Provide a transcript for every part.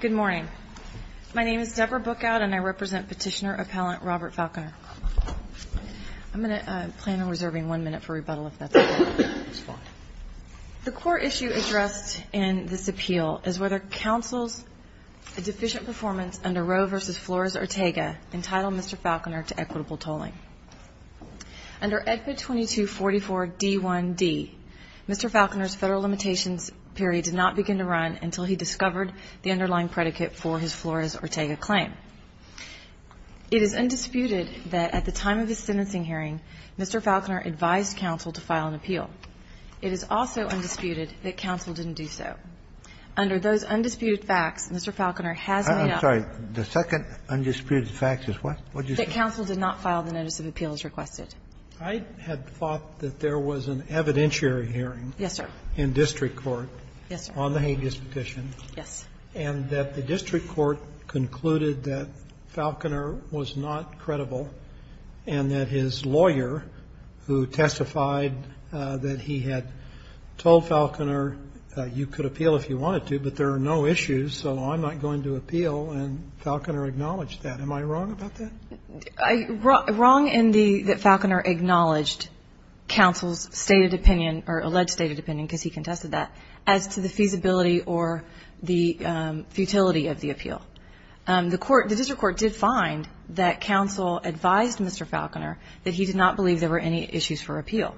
Good morning. My name is Debra Bookout and I represent Petitioner Appellant Robert Falconer. I'm going to plan on reserving one minute for rebuttal if that's okay. The core issue addressed in this appeal is whether counsel's deficient performance under Roe v. Flores-Ortega entitled Mr. Falconer to equitable tolling. Under EDPA 2244-D1-D, Mr. Falconer's Federal limitations period did not begin to run until he discovered the underlying predicate for his Flores-Ortega claim. It is undisputed that at the time of his sentencing hearing, Mr. Falconer advised counsel to file an appeal. It is also undisputed that counsel didn't do so. Under those undisputed facts, Mr. Falconer has made up. I'm sorry. The second undisputed fact is what? That counsel did not file the notice of appeals requested. I had thought that there was an evidentiary hearing. Yes, sir. In district court. Yes, sir. On the habeas petition. Yes. And that the district court concluded that Falconer was not credible and that his lawyer who testified that he had told Falconer you could appeal if you wanted to, but there are no issues, so I'm not going to appeal, and Falconer acknowledged that. Am I wrong about that? Wrong in the that Falconer acknowledged counsel's stated opinion or alleged stated opinion, because he contested that, as to the feasibility or the futility of the appeal. The court, the district court did find that counsel advised Mr. Falconer that he did not believe there were any issues for appeal.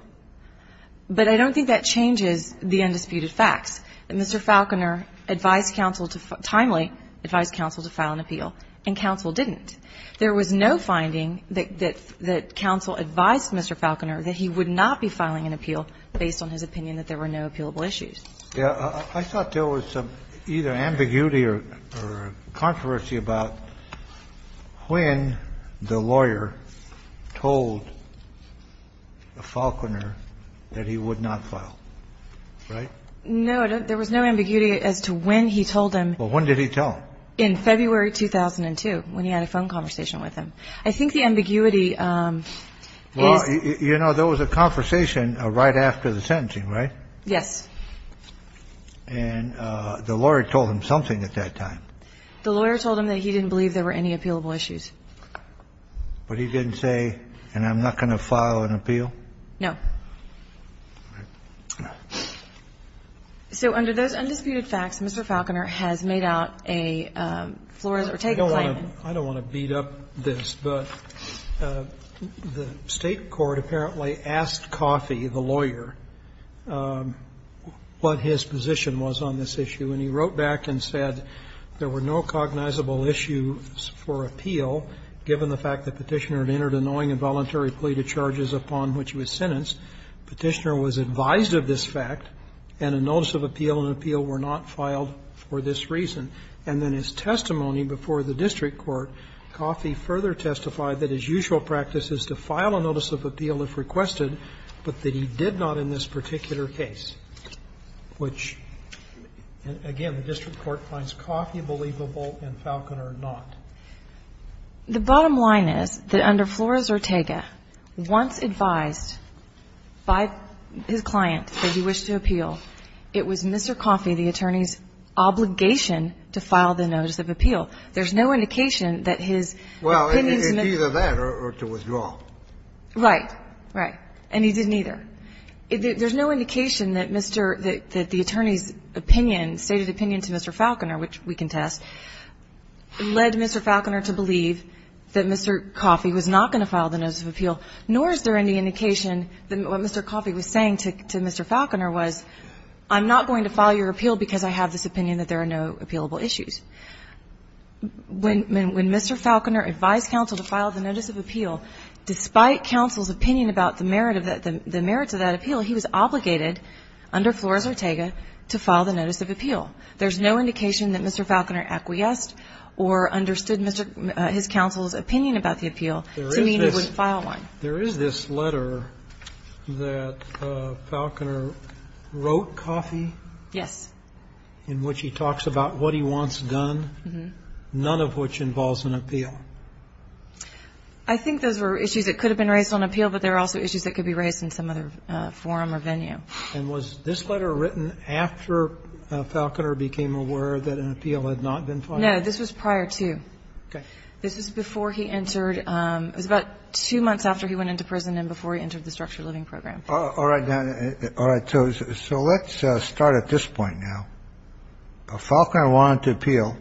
But I don't think that changes the undisputed facts. Mr. Falconer advised counsel to, timely advised counsel to file an appeal, and counsel didn't. There was no finding that counsel advised Mr. Falconer that he would not be filing an appeal based on his opinion that there were no appealable issues. Yes. I thought there was either ambiguity or controversy about when the lawyer told Falconer that he would not file. Right? No, there was no ambiguity as to when he told him. Well, when did he tell him? In February 2002, when he had a phone conversation with him. I think the ambiguity is. Well, you know, there was a conversation right after the sentencing, right? Yes. And the lawyer told him something at that time. The lawyer told him that he didn't believe there were any appealable issues. But he didn't say, and I'm not going to file an appeal? No. So under those undisputed facts, Mr. Falconer has made out a floor or take a claim. I don't want to beat up this, but the State court apparently asked Coffey, the lawyer, what his position was on this issue. And he wrote back and said there were no cognizable issues for appeal, given the fact that Petitioner had entered a knowing and voluntary plea to charges upon which he was sentenced, Petitioner was advised of this fact, and a notice of appeal and appeal were not filed for this reason. And then his testimony before the district court, Coffey further testified that his usual practice is to file a notice of appeal if requested, but that he did not in this particular case, which, again, the district court finds Coffey believable and Falconer not. The bottom line is that under Flores or Tega, once advised by his client that he wished to appeal, it was Mr. Coffey, the attorney's obligation to file the notice of appeal. There's no indication that his opinion was made. Well, either that or to withdraw. Right. Right. And he didn't either. There's no indication that Mr. — that the attorney's opinion, stated opinion to Mr. Falconer, which we can test, led Mr. Falconer to believe that Mr. Coffey was not going to file the notice of appeal, nor is there any indication that what Mr. Coffey was saying to Mr. Falconer was, I'm not going to file your appeal because I have this opinion that there are no appealable issues. When Mr. Falconer advised counsel to file the notice of appeal, despite counsel's opinion about the merits of that appeal, he was obligated under Flores or Tega to file the notice of appeal. There's no indication that Mr. Falconer acquiesced or understood his counsel's opinion about the appeal to mean he wouldn't file one. There is this letter that Falconer wrote, Coffey? Yes. In which he talks about what he wants done, none of which involves an appeal. I think those were issues that could have been raised on appeal, but there are also issues that could be raised in some other forum or venue. And was this letter written after Falconer became aware that an appeal had not been filed? No. This was prior to. Okay. This was before he entered. It was about two months after he went into prison and before he entered the structured living program. All right. All right. So let's start at this point now. Falconer wanted to appeal.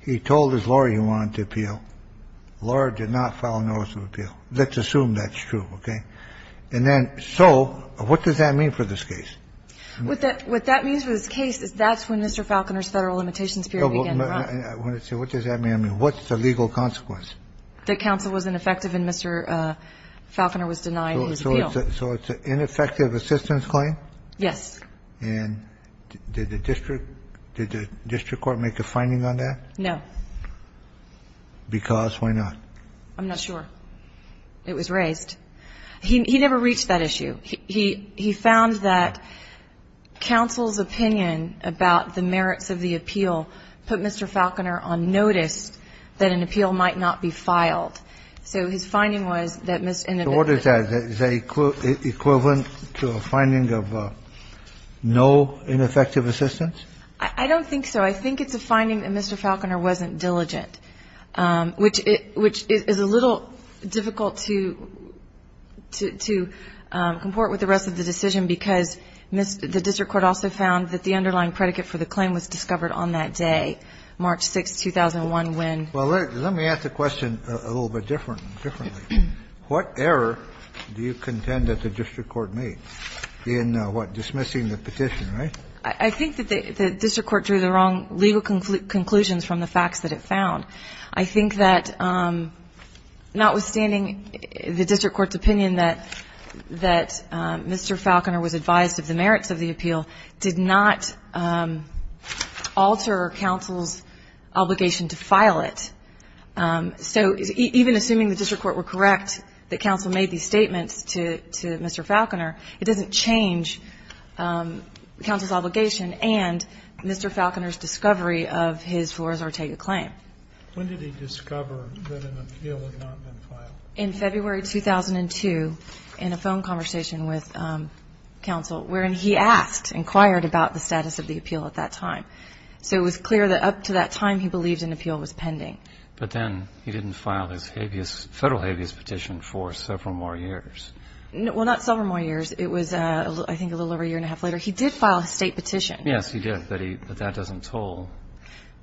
He told his lawyer he wanted to appeal. The lawyer did not file a notice of appeal. Let's assume that's true, okay? And then so what does that mean for this case? What that means for this case is that's when Mr. Falconer's Federal limitations period began to run. What does that mean? What's the legal consequence? That counsel was ineffective and Mr. Falconer was denied his appeal. So it's an ineffective assistance claim? Yes. And did the district court make a finding on that? No. Because why not? I'm not sure. It was raised. He never reached that issue. He found that counsel's opinion about the merits of the appeal put Mr. Falconer on notice that an appeal might not be filed. So his finding was that Mr. Inevitable. So what is that? Is that equivalent to a finding of no ineffective assistance? I don't think so. I think it's a finding that Mr. Falconer wasn't diligent, which is a little difficult to comport with the rest of the decision, because the district court also found that the underlying predicate for the claim was discovered on that day, March 6, 2001, when. Well, let me ask the question a little bit differently. What error do you contend that the district court made in, what, dismissing the petition, right? I think that the district court drew the wrong legal conclusions from the facts that it found. I think that notwithstanding the district court's opinion that Mr. Falconer was advised of the merits of the appeal did not alter counsel's obligation to file it. So even assuming the district court were correct that counsel made these statements to Mr. Falconer, it doesn't change counsel's obligation and Mr. Falconer's discovery of his Flores-Ortega claim. When did he discover that an appeal had not been filed? In February 2002, in a phone conversation with counsel, wherein he asked, inquired about the status of the appeal at that time. So it was clear that up to that time he believed an appeal was pending. But then he didn't file his habeas, federal habeas petition for several more years. Well, not several more years. It was, I think, a little over a year and a half later. He did file a State petition. Yes, he did, but that doesn't toll.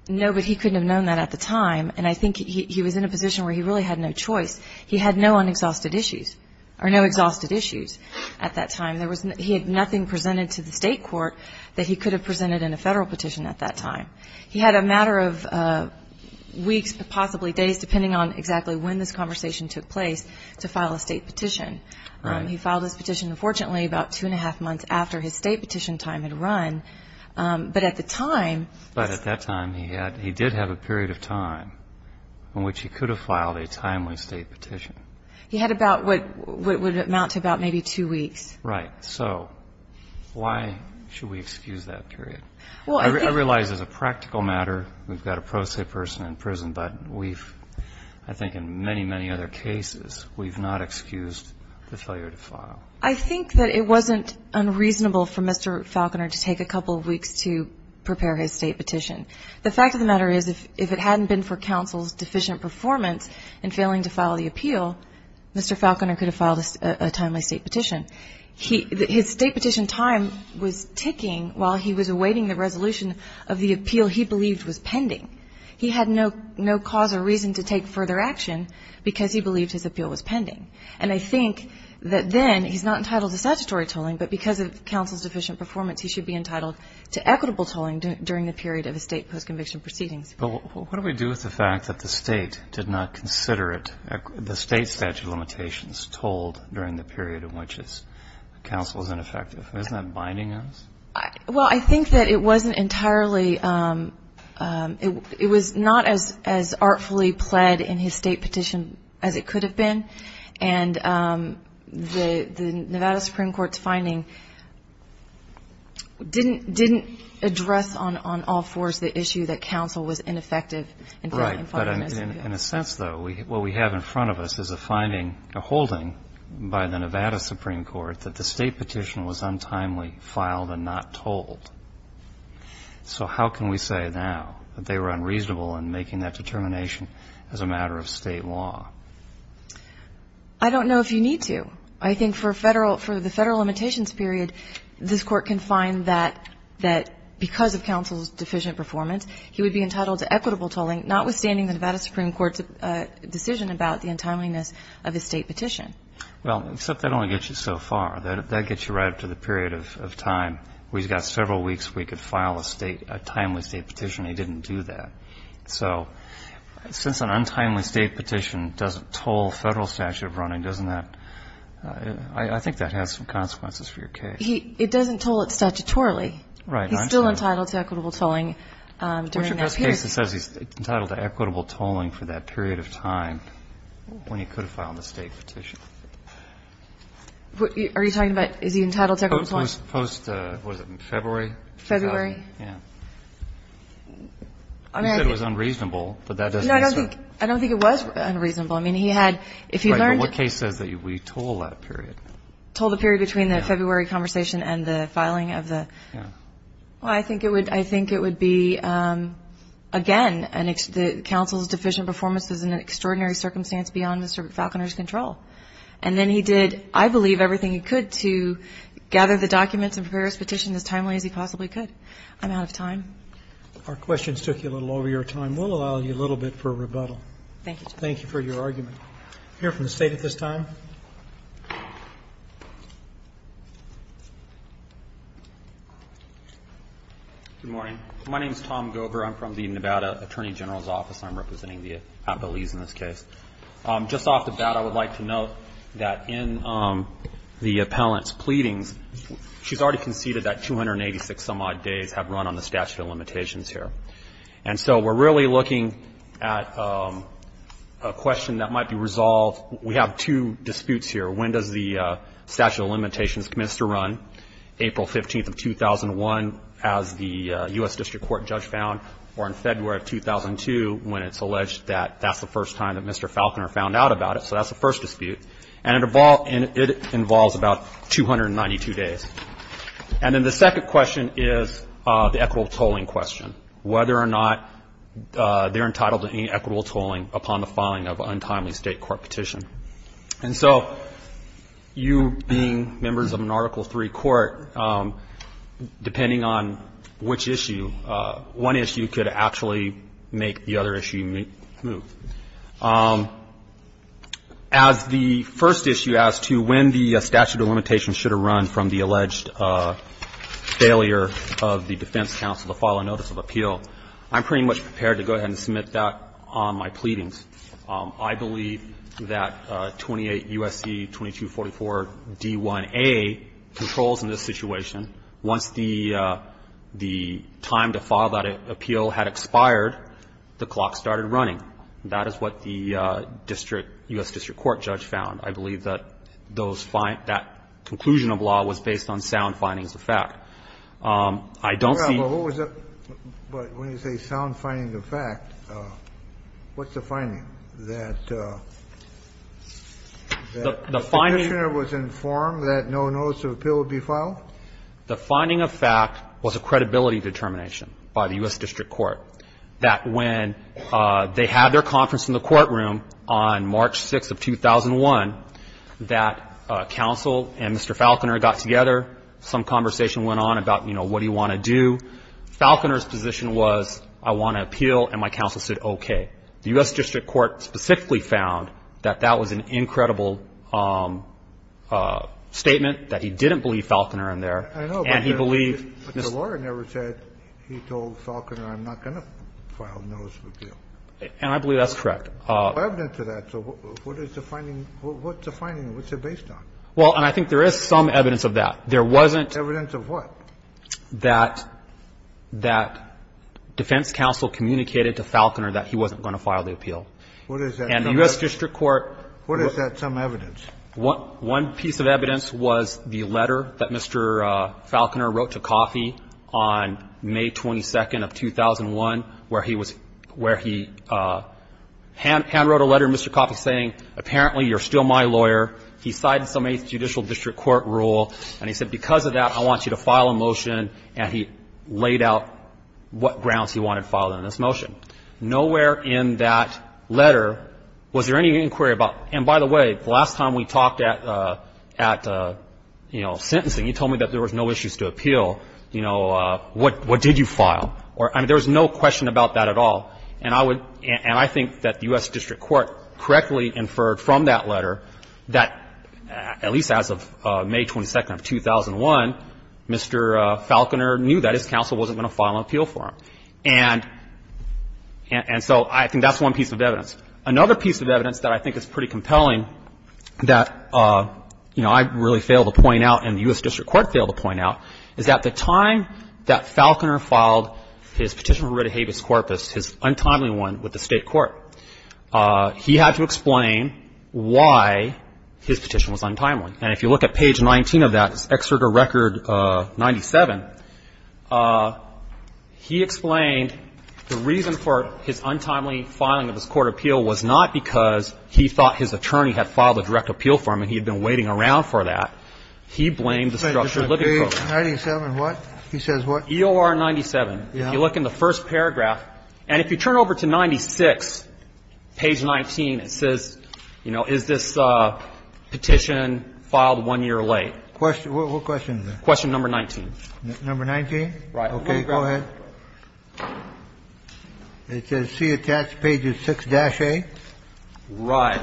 No, but he couldn't have known that at the time. And I think he was in a position where he really had no choice. He had no unexhausted issues or no exhausted issues at that time. He had nothing presented to the State court that he could have presented in a Federal petition at that time. He had a matter of weeks, possibly days, depending on exactly when this conversation took place, to file a State petition. Right. He filed his petition, unfortunately, about two and a half months after his State petition time had run. But at the time he did have a period of time in which he could have filed a timely State petition. He had about what would amount to about maybe two weeks. Right. So why should we excuse that period? I realize as a practical matter we've got a pro se person in prison, but we've, I think, in many, many other cases, we've not excused the failure to file. I think that it wasn't unreasonable for Mr. Falconer to take a couple of weeks to prepare his State petition. The fact of the matter is if it hadn't been for counsel's deficient performance in failing to file the appeal, Mr. Falconer could have filed a timely State petition. His State petition time was ticking while he was awaiting the resolution of the appeal he believed was pending. He had no cause or reason to take further action because he believed his appeal was pending. And I think that then he's not entitled to statutory tolling, but because of counsel's deficient performance he should be entitled to equitable tolling during the period of his State postconviction proceedings. But what do we do with the fact that the State did not consider it, the State statute of limitations tolled during the period in which counsel is ineffective? Isn't that binding us? Well, I think that it wasn't entirely, it was not as artfully pled in his State petition as it could have been. And the Nevada Supreme Court's finding didn't address on all fours the issue that counsel was ineffective in filing his appeal. Right. But in a sense, though, what we have in front of us is a finding, a holding by the Nevada Supreme Court that the State petition was untimely filed and not tolled. So how can we say now that they were unreasonable in making that determination as a matter of State law? I don't know if you need to. I think for the Federal limitations period, this Court can find that because of counsel's deficient performance, he would be entitled to equitable tolling, notwithstanding the Nevada Supreme Court's decision about the untimeliness of his State petition. Well, except that only gets you so far. That gets you right up to the period of time. We've got several weeks we could file a State, a timely State petition, and he didn't do that. So since an untimely State petition doesn't toll Federal statute of running, doesn't that, I think that has some consequences for your case. It doesn't toll it statutorily. Right. He's still entitled to equitable tolling during that period. Which in this case, it says he's entitled to equitable tolling for that period of time when he could have filed the State petition. Are you talking about, is he entitled to equitable tolling? Post, was it in February? February. Yeah. He said it was unreasonable, but that doesn't mean so. No, I don't think it was unreasonable. I mean, he had, if he learned. Right. But what case says that we toll that period? Toll the period between the February conversation and the filing of the. Yeah. Well, I think it would be, again, counsel's deficient performance is an extraordinary circumstance beyond Mr. Falconer's control. And then he did, I believe, everything he could to gather the documents and prepare his petition as timely as he possibly could. I'm out of time. Our questions took you a little over your time. We'll allow you a little bit for rebuttal. Thank you, Justice. Thank you for your argument. We'll hear from the State at this time. Good morning. My name is Tom Gover. I'm from the Nevada Attorney General's Office. I'm representing the appellees in this case. Just off the bat, I would like to note that in the appellant's pleadings, she's already conceded that 286 some-odd days have run on the statute of limitations here. And so we're really looking at a question that might be resolved. We have two disputes here. When does the statute of limitations commence to run? April 15th of 2001, as the U.S. District Court judge found, or in February of 2002, when it's alleged that that's the first time that Mr. Falconer found out about it. So that's the first dispute. And it involves about 292 days. And then the second question is the equitable tolling question, whether or not they're entitled to any equitable tolling upon the filing of an untimely state court petition. And so you being members of an Article III court, depending on which issue, one issue could actually make the other issue move. As the first issue as to when the statute of limitations should have run from the alleged failure of the defense counsel to file a notice of appeal, I'm pretty much prepared to go ahead and submit that on my pleadings. I believe that 28 U.S.C. 2244d1a controls in this situation. Once the time to file that appeal had expired, the clock started running. That is what the district, U.S. District Court judge found. I believe that those find that conclusion of law was based on sound findings of fact. I don't see. Kennedy. But when you say sound findings of fact, what's the finding? That the petitioner was informed that no notice of appeal would be filed? The finding of fact was a credibility determination by the U.S. District Court, that when they had their conference in the courtroom on March 6th of 2001, that counsel and Mr. Falconer got together, some conversation went on about, you know, what do you want to do? Falconer's position was, I want to appeal, and my counsel said, okay. The U.S. District Court specifically found that that was an incredible statement, that he didn't believe Falconer in there, and he believed Mr. Falconer. But the lawyer never said he told Falconer, I'm not going to file a notice of appeal. And I believe that's correct. So what's the finding? What's it based on? Well, and I think there is some evidence of that. There wasn't. Evidence of what? That defense counsel communicated to Falconer that he wasn't going to file the appeal. What is that? And the U.S. District Court. What is that, some evidence? One piece of evidence was the letter that Mr. Falconer wrote to Coffey on May 22nd of 2001, where he was – where he handwrote a letter to Mr. Coffey saying, apparently, you're still my lawyer. He cited some 8th Judicial District Court rule, and he said, because of that, I want you to file a motion, and he laid out what grounds he wanted filed in this motion. Nowhere in that letter was there any inquiry about – and by the way, the last time we talked at – at, you know, sentencing, he told me that there was no issues to appeal. You know, what did you file? Or, I mean, there was no question about that at all. And I would – and I think that the U.S. District Court correctly inferred from that letter that, at least as of May 22nd of 2001, Mr. Falconer knew that his counsel wasn't going to file an appeal for him. And so I think that's one piece of evidence. Another piece of evidence that I think is pretty compelling that, you know, I really failed to point out and the U.S. District Court failed to point out is that the time that Falconer filed his petition for writ of habeas corpus, his untimely one with the State court, he had to explain why his petition was untimely. And if you look at page 19 of that, it's Exergo Record 97, he explained the reason for his untimely filing of his court appeal was not because he thought his attorney had filed a direct appeal for him and he had been waiting around for that. He blamed the structured living program. Kennedy. 97 what? He says what? EOR 97. If you look in the first paragraph, and if you turn over to 96, page 19, it says, you know, is this petition filed one year late? What question is that? Question number 19. Number 19? Right. Go ahead. It says he attached page 6-A. Right.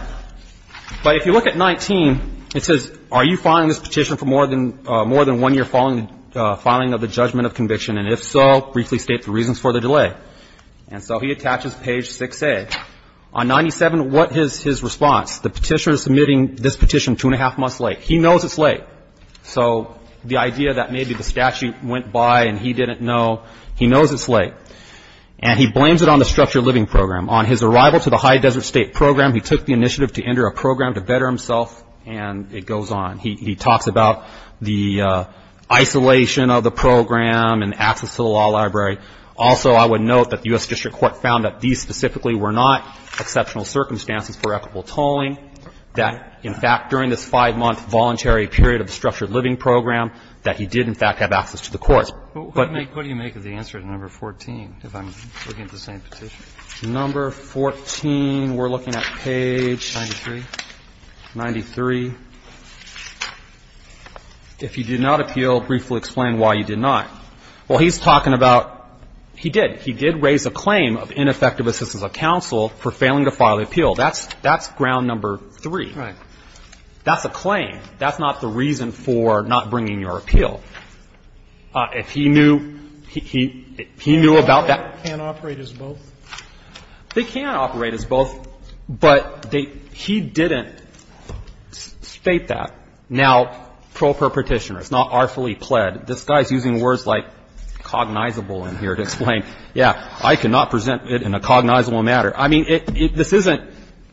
But if you look at 19, it says, are you filing this petition for more than one year filing of the judgment of conviction? And if so, briefly state the reasons for the delay. And so he attaches page 6-A. On 97, what is his response? The petitioner is submitting this petition two and a half months late. He knows it's late. So the idea that maybe the statute went by and he didn't know, he knows it's late. And he blames it on the structured living program. On his arrival to the High Desert State Program, he took the initiative to enter a program to better himself, and it goes on. He talks about the isolation of the program and access to the law library. Also, I would note that the U.S. District Court found that these specifically were not exceptional circumstances for equitable tolling, that, in fact, during this five-month voluntary period of the structured living program, that he did, in fact, have access to the courts. But the ---- What do you make of the answer to number 14, if I'm looking at the same petition? Number 14, we're looking at page 93. If you did not appeal, briefly explain why you did not. Well, he's talking about he did. He did raise a claim of ineffective assistance of counsel for failing to file the appeal. That's ground number 3. Right. That's a claim. That's not the reason for not bringing your appeal. If he knew he ---- He knew about that. They can't operate as both? They can't operate as both, but they ---- he didn't state that. Now, proper Petitioner, it's not artfully pled. This guy is using words like cognizable in here to explain, yeah, I cannot present it in a cognizable matter. I mean, this isn't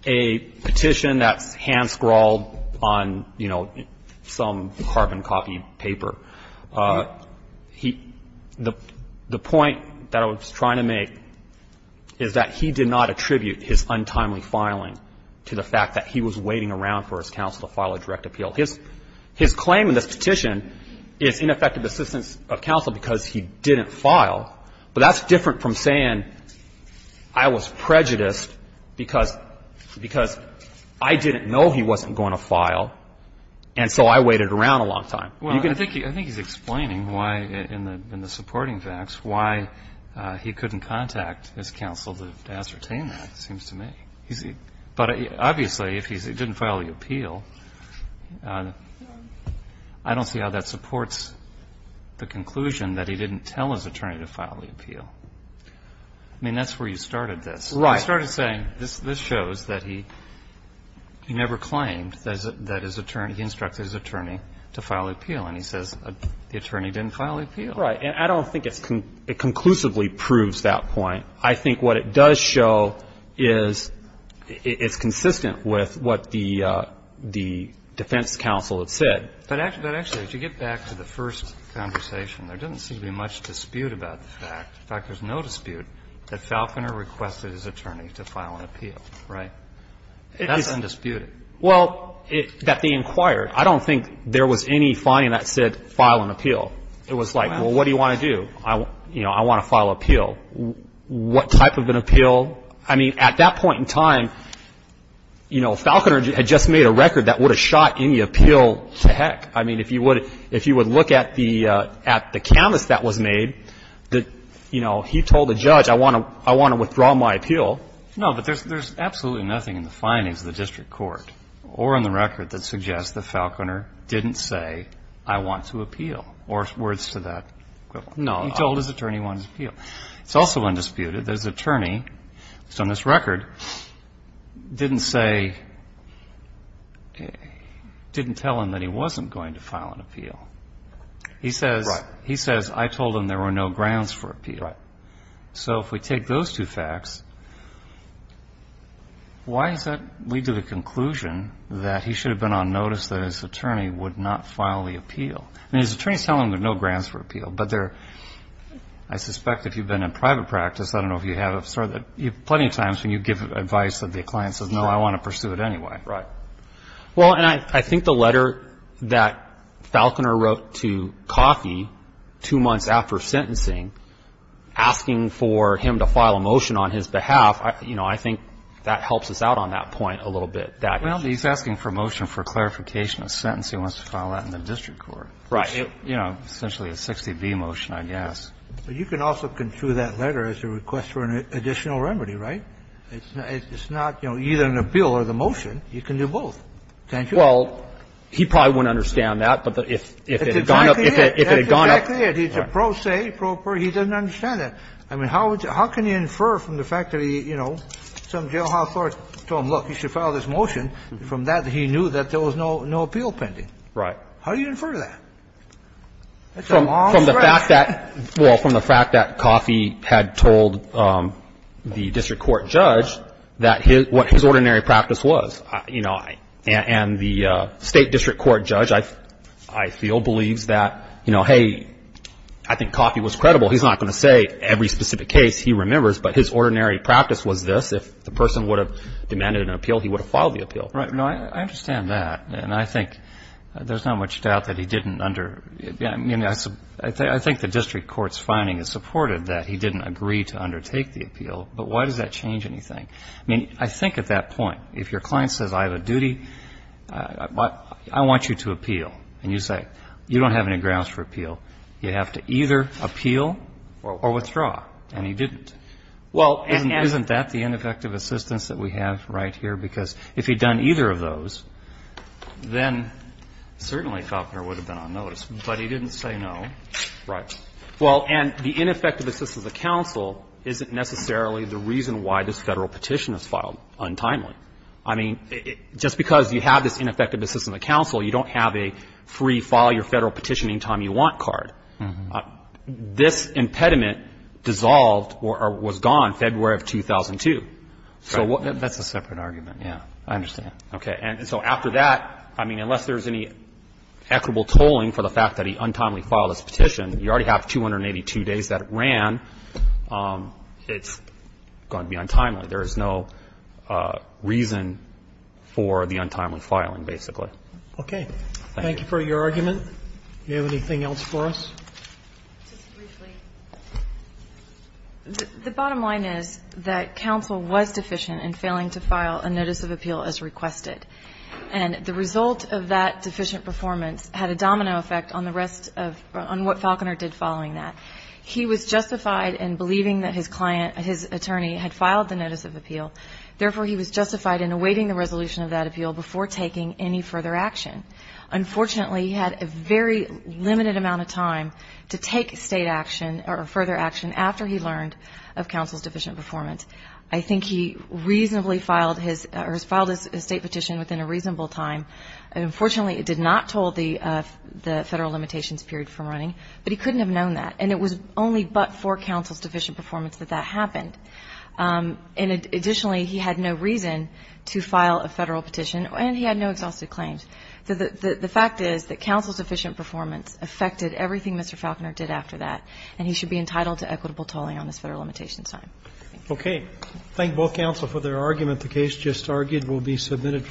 a petition that's hand-scrawled on, you know, some carbon-copied paper. He ---- the point that I was trying to make is that he did not attribute his untimely filing to the fact that he was waiting around for his counsel to file a direct appeal. His claim in this petition is ineffective assistance of counsel because he didn't file. But that's different from saying I was prejudiced because I didn't know he wasn't going to file, and so I waited around a long time. Well, I think he's explaining why, in the supporting facts, why he couldn't contact his counsel to ascertain that, it seems to me. But obviously, if he didn't file the appeal, I don't see how that supports the conclusion that he didn't tell his attorney to file the appeal. I mean, that's where you started this. Right. You started saying this shows that he never claimed that his attorney ---- he instructed his attorney to file the appeal. And he says the attorney didn't file the appeal. Right. And I don't think it conclusively proves that point. But actually, as you get back to the first conversation, there doesn't seem to be much dispute about the fact, in fact, there's no dispute, that Falconer requested his attorney to file an appeal, right? That's undisputed. Well, that they inquired, I don't think there was any finding that said file an appeal. It was like, well, what do you want to do? You know, I want to file an appeal. What type of an appeal? I mean, at that point in time, you know, Falconer had just made a record that would have shot any appeal to heck. I mean, if you would look at the canvas that was made, you know, he told the judge, I want to withdraw my appeal. No, but there's absolutely nothing in the findings of the district court or in the record that suggests that Falconer didn't say, I want to appeal, or words to that equivalent. No. He told his attorney he wanted to appeal. It's also undisputed. His attorney, on this record, didn't say, didn't tell him that he wasn't going to file an appeal. He says, I told him there were no grounds for appeal. Right. So if we take those two facts, why does that lead to the conclusion that he should have been on notice that his attorney would not file the appeal? I mean, his attorney is telling him there are no grounds for appeal, I suspect if you've been in private practice, I don't know if you have, plenty of times when you give advice that the client says, no, I want to pursue it anyway. Right. Well, and I think the letter that Falconer wrote to Coffey two months after sentencing, asking for him to file a motion on his behalf, you know, I think that helps us out on that point a little bit. Well, he's asking for a motion for clarification of sentence. He wants to file that in the district court. Right. You know, essentially a 60B motion, I guess. But you can also construe that letter as a request for an additional remedy, right? It's not, you know, either an appeal or the motion. You can do both, can't you? Well, he probably wouldn't understand that, but if it had gone up. That's exactly it. That's exactly it. He's a pro se, pro per. He doesn't understand that. I mean, how can you infer from the fact that he, you know, some jailhouse lawyer told him, look, you should file this motion, from that he knew that there was no appeal pending. Right. How do you infer that? It's a long stretch. From the fact that, well, from the fact that Coffey had told the district court judge what his ordinary practice was. You know, and the State District Court judge, I feel, believes that, you know, hey, I think Coffey was credible. He's not going to say every specific case he remembers, but his ordinary practice was this. If the person would have demanded an appeal, he would have filed the appeal. Right. No, I understand that. And I think there's not much doubt that he didn't under, I mean, I think the district court's finding is supported that he didn't agree to undertake the appeal. But why does that change anything? I mean, I think at that point, if your client says, I have a duty, I want you to appeal. And you say, you don't have any grounds for appeal. You have to either appeal or withdraw. And he didn't. Well, isn't that the ineffective assistance that we have right here? Because if he'd done either of those, then certainly Faulkner would have been on notice. But he didn't say no. Right. Well, and the ineffective assistance of counsel isn't necessarily the reason why this Federal petition is filed untimely. I mean, just because you have this ineffective assistance of counsel, you don't have a free file your Federal petition any time you want card. This impediment dissolved or was gone February of 2002. Right. That's a separate argument. Yeah. I understand. Okay. And so after that, I mean, unless there's any equitable tolling for the fact that he untimely filed his petition, you already have 282 days that it ran. It's going to be untimely. There is no reason for the untimely filing, basically. Okay. Thank you. Thank you for your argument. Do you have anything else for us? Just briefly. The bottom line is that counsel was deficient in failing to file a notice of appeal as requested. And the result of that deficient performance had a domino effect on the rest of what Faulkner did following that. He was justified in believing that his client, his attorney, had filed the notice of appeal. Therefore, he was justified in awaiting the resolution of that appeal before taking any further action. Unfortunately, he had a very limited amount of time to take state action or further action after he learned of counsel's deficient performance. I think he reasonably filed his state petition within a reasonable time. Unfortunately, it did not toll the federal limitations period from running, but he couldn't have known that. And it was only but for counsel's deficient performance that that happened. And additionally, he had no reason to file a federal petition, and he had no exhausted claims. So the fact is that counsel's deficient performance affected everything Mr. Faulkner did after that, and he should be entitled to equitable tolling on this federal limitations time. Okay. Thank both counsel for their argument. The case just argued will be submitted for discussion.